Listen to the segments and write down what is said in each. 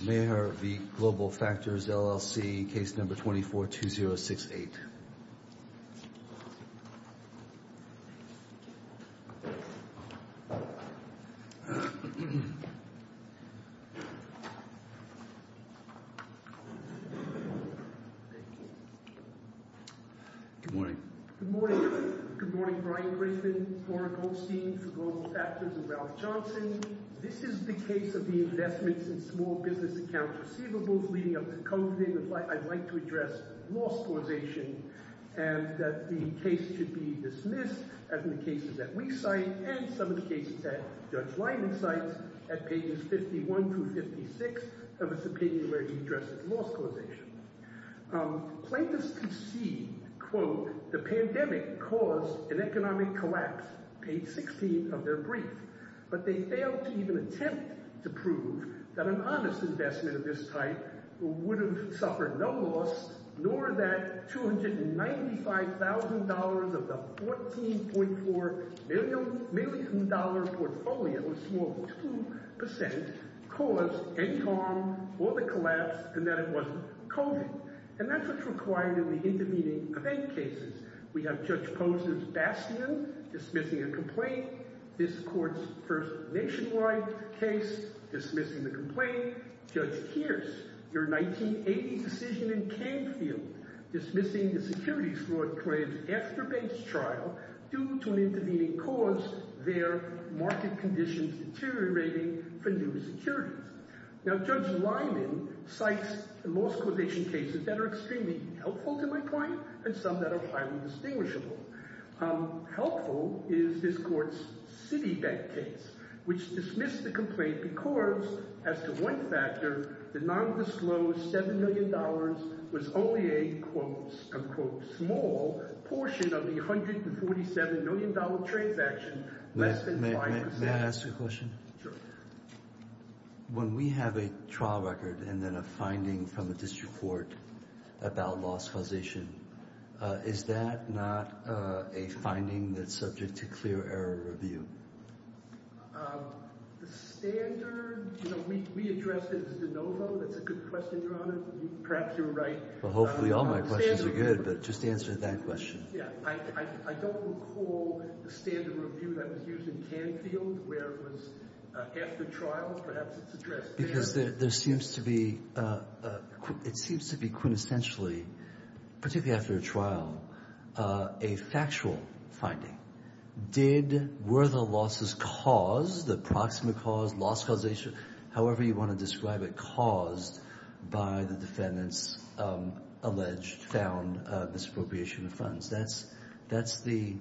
Maher v. Global Factors, LLC, case number 24-2068. Good morning. Good morning. Good morning, Brian Griffin, Flora Goldstein for Global Factors and Ralph Johnson. This is the case of the investments in small business accounts receivables leading up to COVID-19. I'd like to address loss causation and that the case should be dismissed as in the cases that we cite and some of the cases that Judge Leiden cites at pages 51-56 of a subpoena where he addresses loss causation. Plaintiffs concede, quote, the pandemic caused an economic collapse, page 16 of their brief, but they failed to even attempt to prove that an honest investment of this type would have suffered no loss, nor that $295,000 of the $14.4 million portfolio, a small 2%, caused any harm or the collapse and that it wasn't COVID. And that's what's required in the intervening event cases. We have Judge Posner's Bastion dismissing a complaint. This court's first nationwide case dismissing the complaint. Judge Kearse, your 1980 decision in Canfield dismissing the securities fraud claims after base trial due to an intervening cause, their market conditions deteriorating for new securities. Now, Judge Leiden cites loss causation cases that are extremely helpful to my point and some that are highly distinguishable. Helpful is this court's Citibank case, which dismissed the complaint because as to one factor, the non-disclosed $7 million was only a, quote, unquote, small portion of the $147 million transaction, less than 5%. May I ask a question? When we have a trial record and then a finding from a district court about loss causation, is that not a finding that's subject to clear error review? The standard, you know, we address it as de novo. That's a good question, Your Honor. Perhaps you're right. Well, hopefully all my questions are good, but just answer that question. Yeah. I don't recall the standard review that was used in Canfield where it was after trial, perhaps it's addressed there. Because there seems to be, it seems to be quintessentially, particularly after a trial, a factual finding. Did, were the losses caused, the proximate cause, loss causation, however you want to describe it, caused by the defendant's alleged found misappropriation of funds. That's the,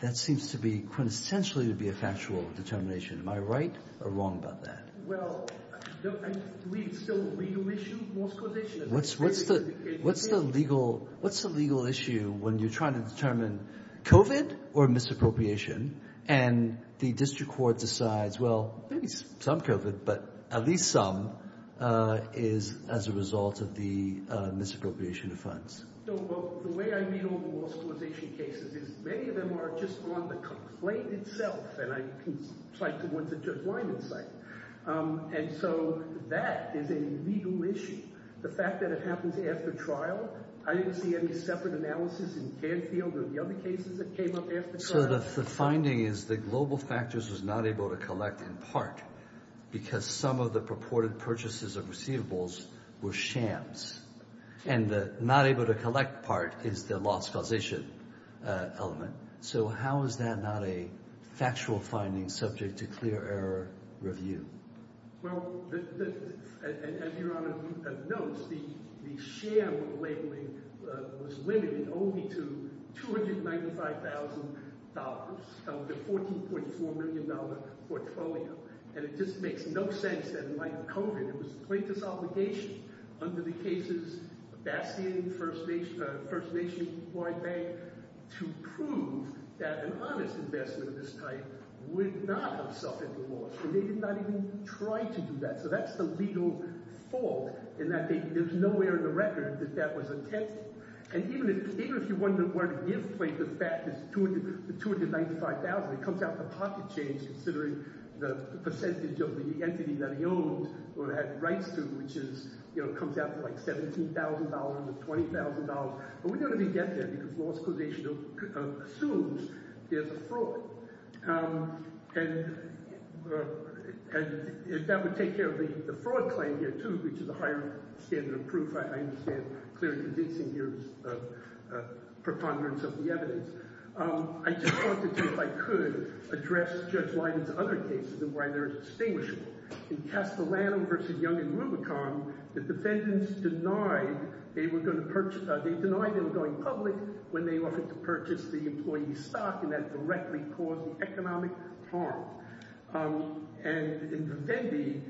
that seems to be quintessentially to be a factual determination. Am I right or wrong about that? Well, I believe it's still a legal issue, loss causation. What's the legal issue when you're trying to determine COVID or misappropriation and the district court decides, well, maybe some COVID, but at least some is as a result of the misappropriation of funds? No, well, the way I read all the loss causation cases is many of them are just on the complaint itself, and I can cite the ones that Judge Lyman cited. And so that is a legal issue. The fact that it happens after trial, I didn't see any separate analysis in Canfield or the other cases that came up after trial. So the finding is the global factors was not able to collect in part because some of the purported purchases of receivables were shams. And the not able to collect part is the loss causation element. So how is that not a factual finding subject to clear error review? Well, as Your Honor notes, the share labeling was limited only to $295,000, the $14.4 million portfolio. And it just makes no sense that in light of COVID, it was the plaintiff's obligation under the cases of Bastion, First Nation Employed Bank, to prove that an honest investment of this type would not have suffered the loss. And they did not even try to do that. So that's the legal fault in that there's nowhere in the record that that was attempted. And even if you wonder where to give plaintiff's back this $295,000, it comes out the pocket change, considering the percentage of the entity that he owned or had rights to, which comes out to like $17,000 or $20,000. But we don't really get there because loss causation assumes there's a fraud. And that would take care of the fraud claim here, too, which is a higher standard of proof. I understand clearly convincing use of preponderance of the evidence. I just wanted to, if I could, address Judge Leiden's other cases and why they're distinguishable. In Castellano v. Young and Rubicon, the defendants denied they were going to purchase—they denied they were going public when they offered to purchase the employee's stock, and that directly caused the economic harm. And in Vendee,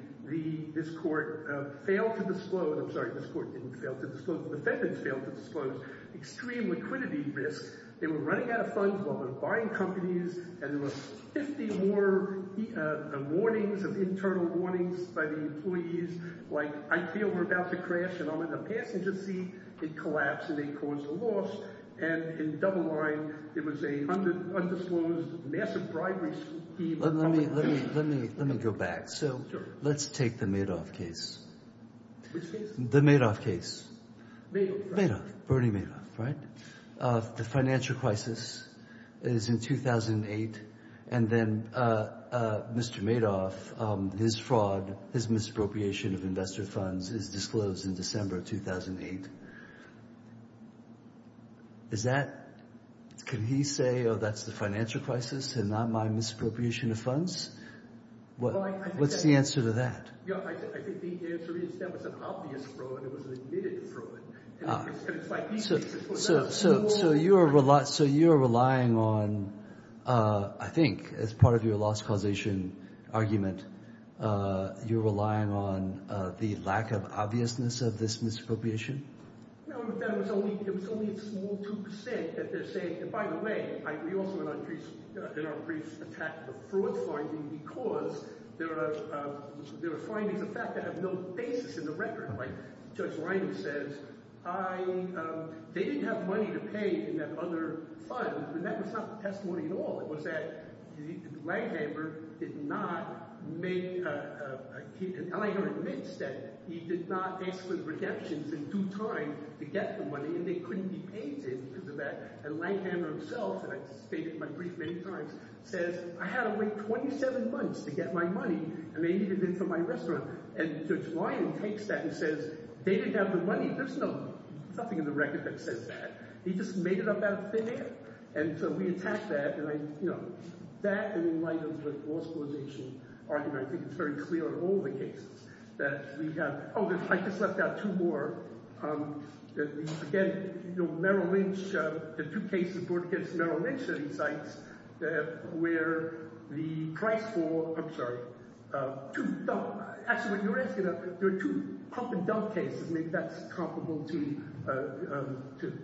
this court failed to disclose—I'm sorry, this court didn't fail to disclose, the defendants failed to disclose extreme liquidity risks. They were running out of funds while they were buying companies, and there were 50 more warnings of internal warnings by the employees, like, I feel we're about to crash, and I'm in the passenger seat. It collapsed, and they caused a loss. And in Double Line, it was an undisclosed massive bribery scheme. Let me go back. Sure. So let's take the Madoff case. Which case? The Madoff case. Madoff, right. Madoff, Bernie Madoff, right? The financial crisis is in 2008, and then Mr. Madoff, his fraud, his misappropriation of investor funds is disclosed in December 2008. Is that—can he say, oh, that's the financial crisis and not my misappropriation of funds? What's the answer to that? I think the answer is that was an obvious fraud. It was an admitted fraud. So you are relying on, I think, as part of your loss causation argument, you're relying on the lack of obviousness of this misappropriation? It was only a small 2% that they're saying—and by the way, we also in our briefs attacked the fraud finding because there are findings of fact that have no basis in the record. Like Judge Reiner says, they didn't have money to pay in that other fund, and that was not the testimony at all. It was that Langhamer did not make—and Langer admits that he did not ask for the redemptions in due time to get the money, and they couldn't be paid to him because of that. And Langhamer himself, and I've stated in my brief many times, says, I had to wait 27 months to get my money, and they needed it for my restaurant. And Judge Reiner takes that and says, they didn't have the money. There's nothing in the record that says that. He just made it up out of thin air. And so we attack that, and I—that in light of the loss causation argument, I think it's very clear in all the cases that we have—oh, I just left out two more. Again, Merrill Lynch—the two cases brought against Merrill Lynch at these sites where the price for—I'm sorry. Actually, what you're asking—there are two pump-and-dump cases—maybe that's comparable to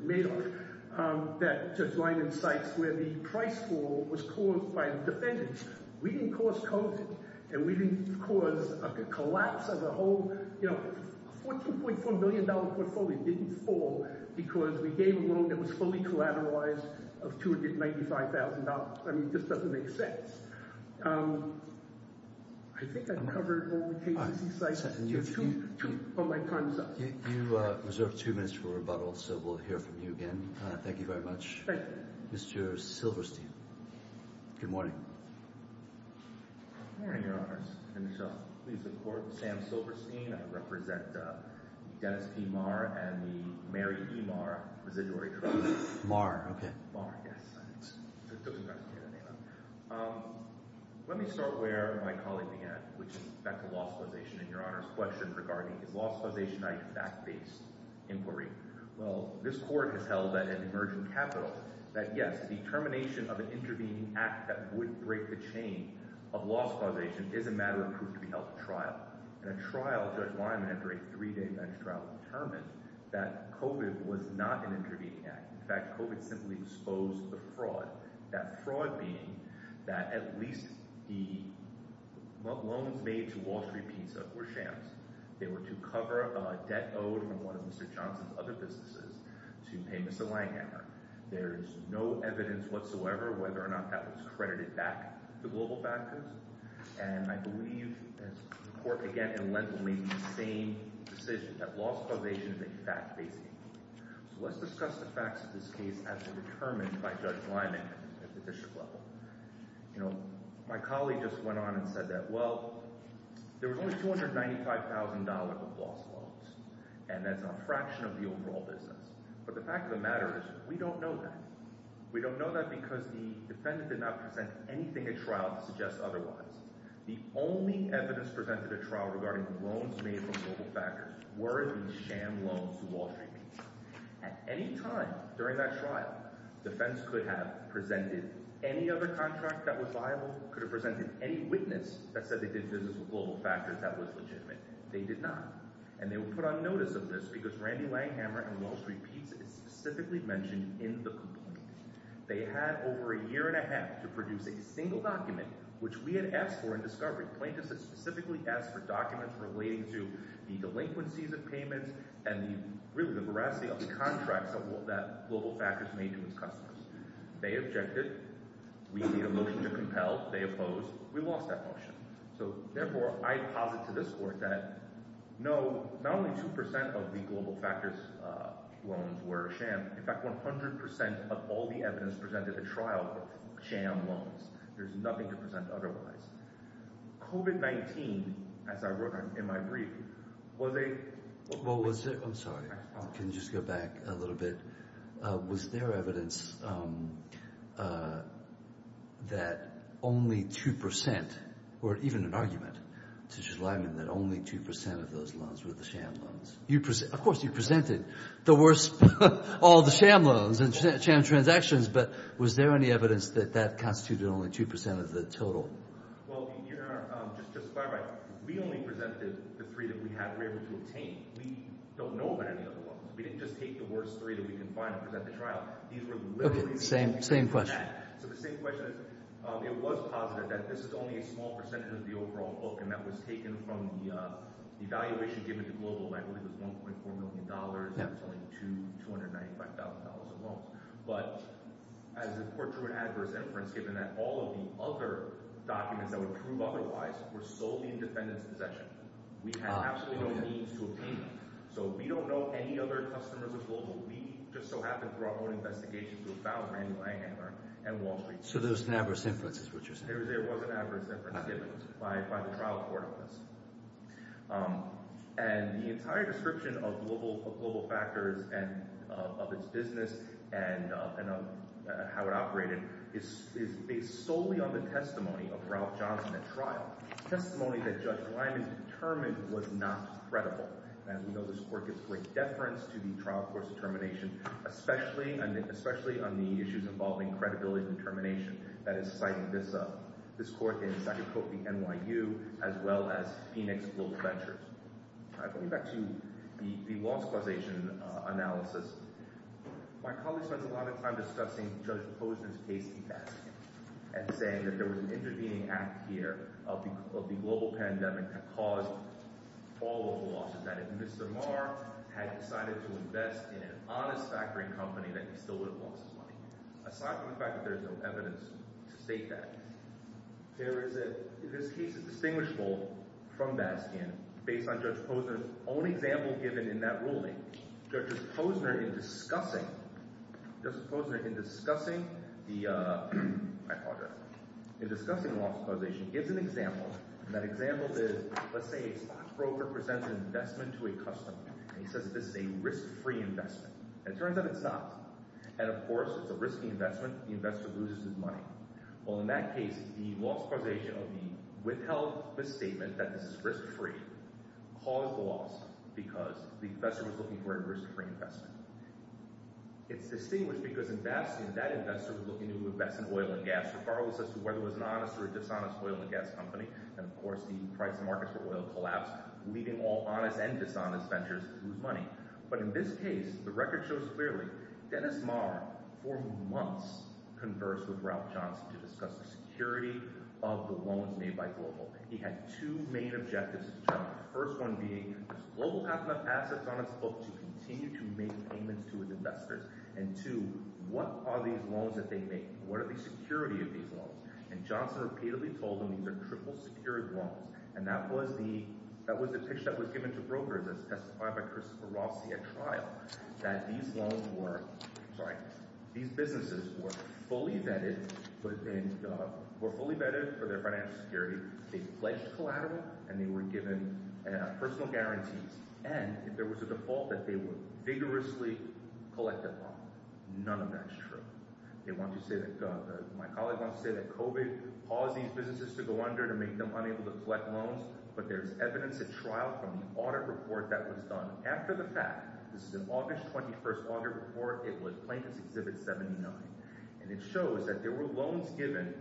Madoff—that Judge Lyman cites where the price fall was caused by the defendants. We didn't cause COVID, and we didn't cause a collapse of the whole—you know, a $14.4 billion portfolio didn't fall because we gave a loan that was fully collateralized of $295,000. I mean, it just doesn't make sense. I think I've covered all the cases. He's like, two of my time's up. You reserve two minutes for rebuttal, so we'll hear from you again. Thank you very much. Thank you. Mr. Silverstein. Good morning. Good morning, Your Honors. And, Michelle, please support Sam Silverstein. I represent Dennis P. Marr and the Mary E. Marr Residuary Trust. Marr, okay. Marr, yes. Let me start where my colleague began, which is back to law supposation and Your Honors' question regarding is law supposation an act-based inquiry? Well, this Court has held that in emergent capital that, yes, the termination of an intervening act that would break the chain of law supposation is a matter of proof to be held at trial. And at trial, Judge Lyman, after a three-day bench trial, determined that COVID was not an intervening act. In fact, COVID simply exposed the fraud, that fraud being that at least the loans made to Wall Street Pizza were shams. They were to cover a debt owed from one of Mr. Johnson's other businesses to pay Mr. Langhammer. There is no evidence whatsoever whether or not that was credited back to global factors. And I believe, as the Court again in Lent will make the same decision, that law supposation is a fact-based inquiry. So let's discuss the facts of this case as determined by Judge Lyman at the district level. You know, my colleague just went on and said that, well, there was only $295,000 of lost loans, and that's a fraction of the overall business. But the fact of the matter is we don't know that. We don't know that because the defendant did not present anything at trial to suggest otherwise. The only evidence presented at trial regarding loans made from global factors were these sham loans to Wall Street Pizza. At any time during that trial, defense could have presented any other contract that was viable, could have presented any witness that said they did business with global factors that was legitimate. They did not. And they will put on notice of this because Randy Langhammer and Wall Street Pizza is specifically mentioned in the complaint. They had over a year and a half to produce a single document, which we had asked for in discovery. The plaintiffs had specifically asked for documents relating to the delinquencies of payments and really the veracity of the contracts that global factors made to its customers. They objected. We need a motion to compel. They opposed. We lost that motion. So therefore, I posit to this court that no, not only 2% of the global factors loans were sham. In fact, 100% of all the evidence presented at trial were sham loans. There's nothing to present otherwise. COVID-19, as I wrote in my brief, was a— I'm sorry. Can you just go back a little bit? Was there evidence that only 2% or even an argument to Schleierman that only 2% of those loans were the sham loans? Of course, you presented the worst, all the sham loans and sham transactions, but was there any evidence that that constituted only 2% of the total? Well, Your Honor, just to clarify, we only presented the three that we were able to obtain. We don't know about any other loans. We didn't just take the worst three that we could find and present at the trial. These were literally— Okay, same question. So the same question is it was positive that this is only a small percentage of the overall book, and that was taken from the evaluation given to Global. I believe it was $1.4 million. It was only $295,000 of loans. But as important to an adverse inference given that all of the other documents that would prove otherwise were solely in defendant's possession, we had absolutely no means to obtain them. So we don't know any other customers of Global. We just so happened through our own investigation to have found Manu Langhammer and Wall Street. So there was an adverse inference is what you're saying. There was an adverse inference given by the trial court on this. And the entire description of Global Factors and of its business and how it operated is based solely on the testimony of Ralph Johnson at trial, testimony that Judge Lyman determined was not credible. And we know this court gives great deference to the trial court's determination, especially on the issues involving credibility and determination. That is citing this court in, as I could quote, the NYU as well as Phoenix Global Ventures. Going back to the loss causation analysis, my colleagues spent a lot of time discussing Judge Posner's case in Baskin and saying that there was an intervening act here of the global pandemic that caused all of the losses. That if Mr. Marr had decided to invest in an honest factory company that he still would have lost his money. Aside from the fact that there is no evidence to state that, there is a – this case is distinguishable from Baskin based on Judge Posner's own example given in that ruling. Judge Posner in discussing – Judge Posner in discussing the – I apologize – in discussing the loss causation gives an example, and that example is let's say a stockbroker presents an investment to a customer. And he says this is a risk-free investment. It turns out it's not. And, of course, it's a risky investment. The investor loses his money. Well, in that case, the loss causation of the withheld misstatement that this is risk-free caused the loss because the investor was looking for a risk-free investment. It's distinguished because in Baskin, that investor was looking to invest in oil and gas regardless as to whether it was an honest or a dishonest oil and gas company. And, of course, the price of markets for oil collapsed, leaving all honest and dishonest ventures to lose money. But in this case, the record shows clearly Dennis Maher for months conversed with Ralph Johnson to discuss the security of the loans made by Global. He had two main objectives. The first one being does Global have enough assets on its books to continue to make payments to its investors? And two, what are these loans that they make? What are the security of these loans? And Johnson repeatedly told them these are triple-secured loans, and that was the picture that was given to brokers as testified by Christopher Rossi at trial, that these loans were – sorry. These businesses were fully vetted for their financial security. They pledged collateral, and they were given personal guarantees. And there was a default that they would vigorously collect the loan. None of that is true. They want to say that – my colleague wants to say that COVID caused these businesses to go under to make them unable to collect loans. But there's evidence at trial from the audit report that was done after the fact. This is an August 21st audit report. It was Plankton's Exhibit 79. And it shows that there were loans given,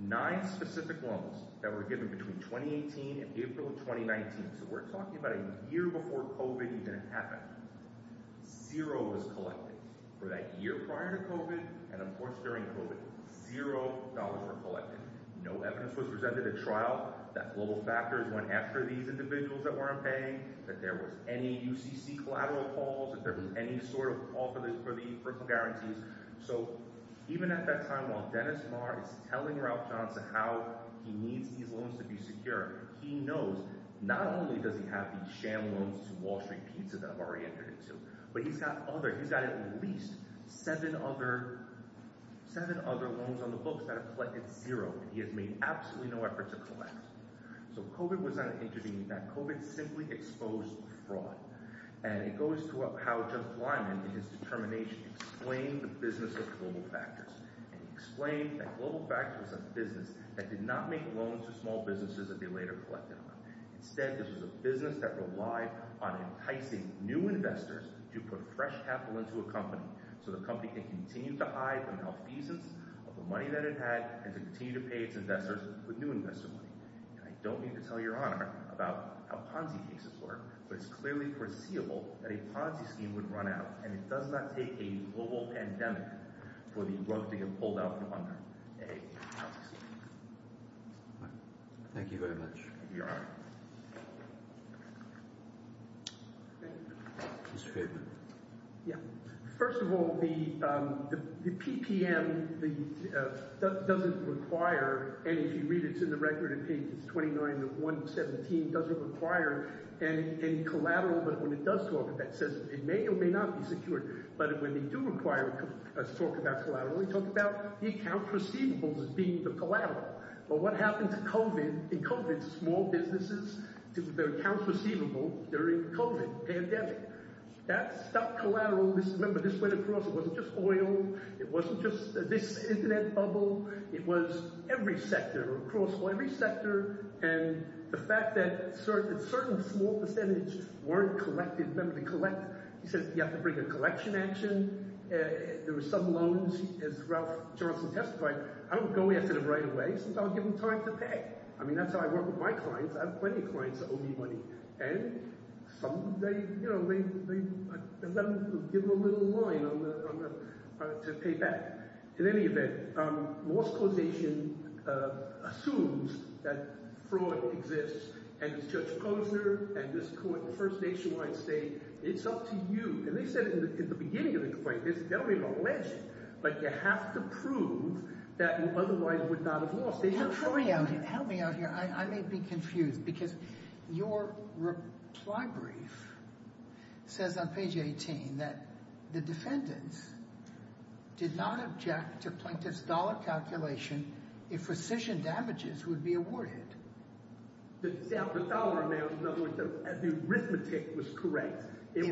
nine specific loans that were given between 2018 and April of 2019. So we're talking about a year before COVID even happened. Zero was collected. For that year prior to COVID and, of course, during COVID, zero dollars were collected. No evidence was presented at trial that little factors went after these individuals that weren't paying, that there was any UCC collateral calls, that there was any sort of call for the personal guarantees. So even at that time, while Dennis Maher is telling Ralph Johnson how he needs these loans to be secure, he knows not only does he have these sham loans to Wall Street Pizza that I've already entered into, but he's got other – at least seven other loans on the books that have collected zero that he has made absolutely no effort to collect. So COVID was not intervening in that. COVID simply exposed fraud. And it goes to how Judge Lyman in his determination explained the business of global factors. And he explained that global factors was a business that did not make loans to small businesses that they later collected on. Instead, this was a business that relied on enticing new investors to put fresh capital into a company so the company can continue to hide the malfeasance of the money that it had and to continue to pay its investors with new investor money. And I don't mean to tell Your Honor about how Ponzi schemes work, but it's clearly foreseeable that a Ponzi scheme would run out, and it does not take a global pandemic for the rug to get pulled out from under a Ponzi scheme. Thank you very much. Your Honor. Mr. Feynman. Yeah. First of all, the PPM doesn't require – and if you read it, it's in the record in pages 29 and 117 – doesn't require any collateral. But when it does talk about that, it says it may or may not be secured. But when they do require us to talk about collateral, we talk about the accounts receivables as being the collateral. But what happened to COVID – in COVID, small businesses, their accounts receivable during COVID pandemic, that stopped collateral. Remember, this went across. It wasn't just oil. It wasn't just this internet bubble. It was every sector, across every sector. And the fact that certain small percentage weren't collected – remember, they collect – he says you have to bring a collection action. There were some loans, as Ralph Johnson testified. I would go after them right away since I would give them time to pay. I mean that's how I work with my clients. I have plenty of clients that owe me money. And some, they let me give them a little line to pay back. In any event, Lost Causation assumes that fraud exists. And Judge Posner and this court, First Nationwide, say it's up to you. And they said in the beginning of the complaint, they don't even allege it. But you have to prove that you otherwise would not have lost. Help me out here. Help me out here. I may be confused because your reply brief says on page 18 that the defendants did not object to plaintiff's dollar calculation if rescission damages would be awarded. The dollar amount, in other words, the arithmetic was correct. If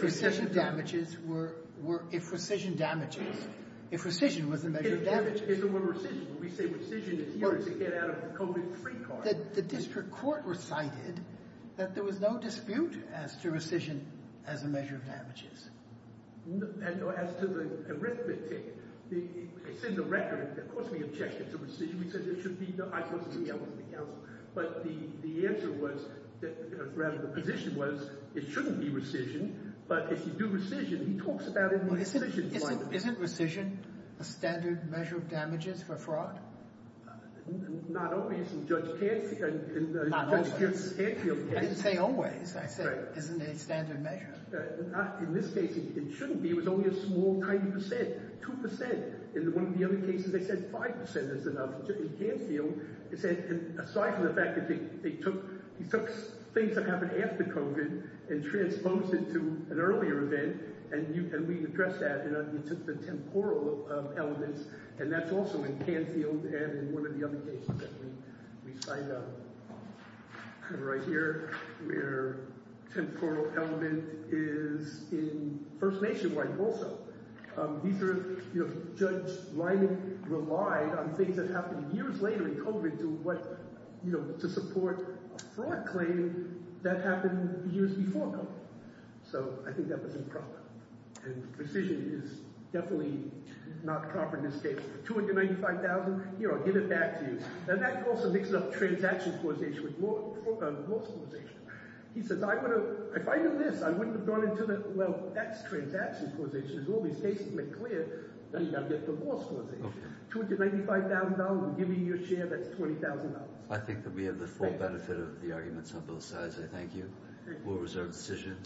rescission damages were – if rescission damages – if rescission was the measure of damages. We say rescission is here to get out of the COVID free card. The district court recited that there was no dispute as to rescission as a measure of damages. As to the arithmetic. It's in the record. Of course we objected to rescission. We said it should be the high court's decision. That wasn't the counsel. But the answer was – rather the position was it shouldn't be rescission. But if you do rescission, he talks about it in the rescission line. Isn't rescission a standard measure of damages for fraud? Not always in Judge Canfield's case. I didn't say always. I said isn't it a standard measure? In this case it shouldn't be. It was only a small tiny percent, 2%. In one of the other cases they said 5% is enough. Aside from the fact that he took things that happened after COVID and transposed it to an earlier event. And we addressed that. He took the temporal elements. And that's also in Canfield and in one of the other cases that we cite. Right here. Where temporal element is in First Nation right also. Judge Lyman relied on things that happened years later in COVID to support a fraud claim that happened years before COVID. So I think that was improper. And rescission is definitely not proper in this case. $295,000. Here, I'll give it back to you. And that also mixes up transaction causation with loss causation. If I knew this, I wouldn't have gone into it. Well, that's transaction causation. There's all these cases made clear. Then you've got to get to loss causation. $295,000 and giving you a share, that's $20,000. I think that we have the full benefit of the arguments on both sides. I thank you. We'll reserve the decision.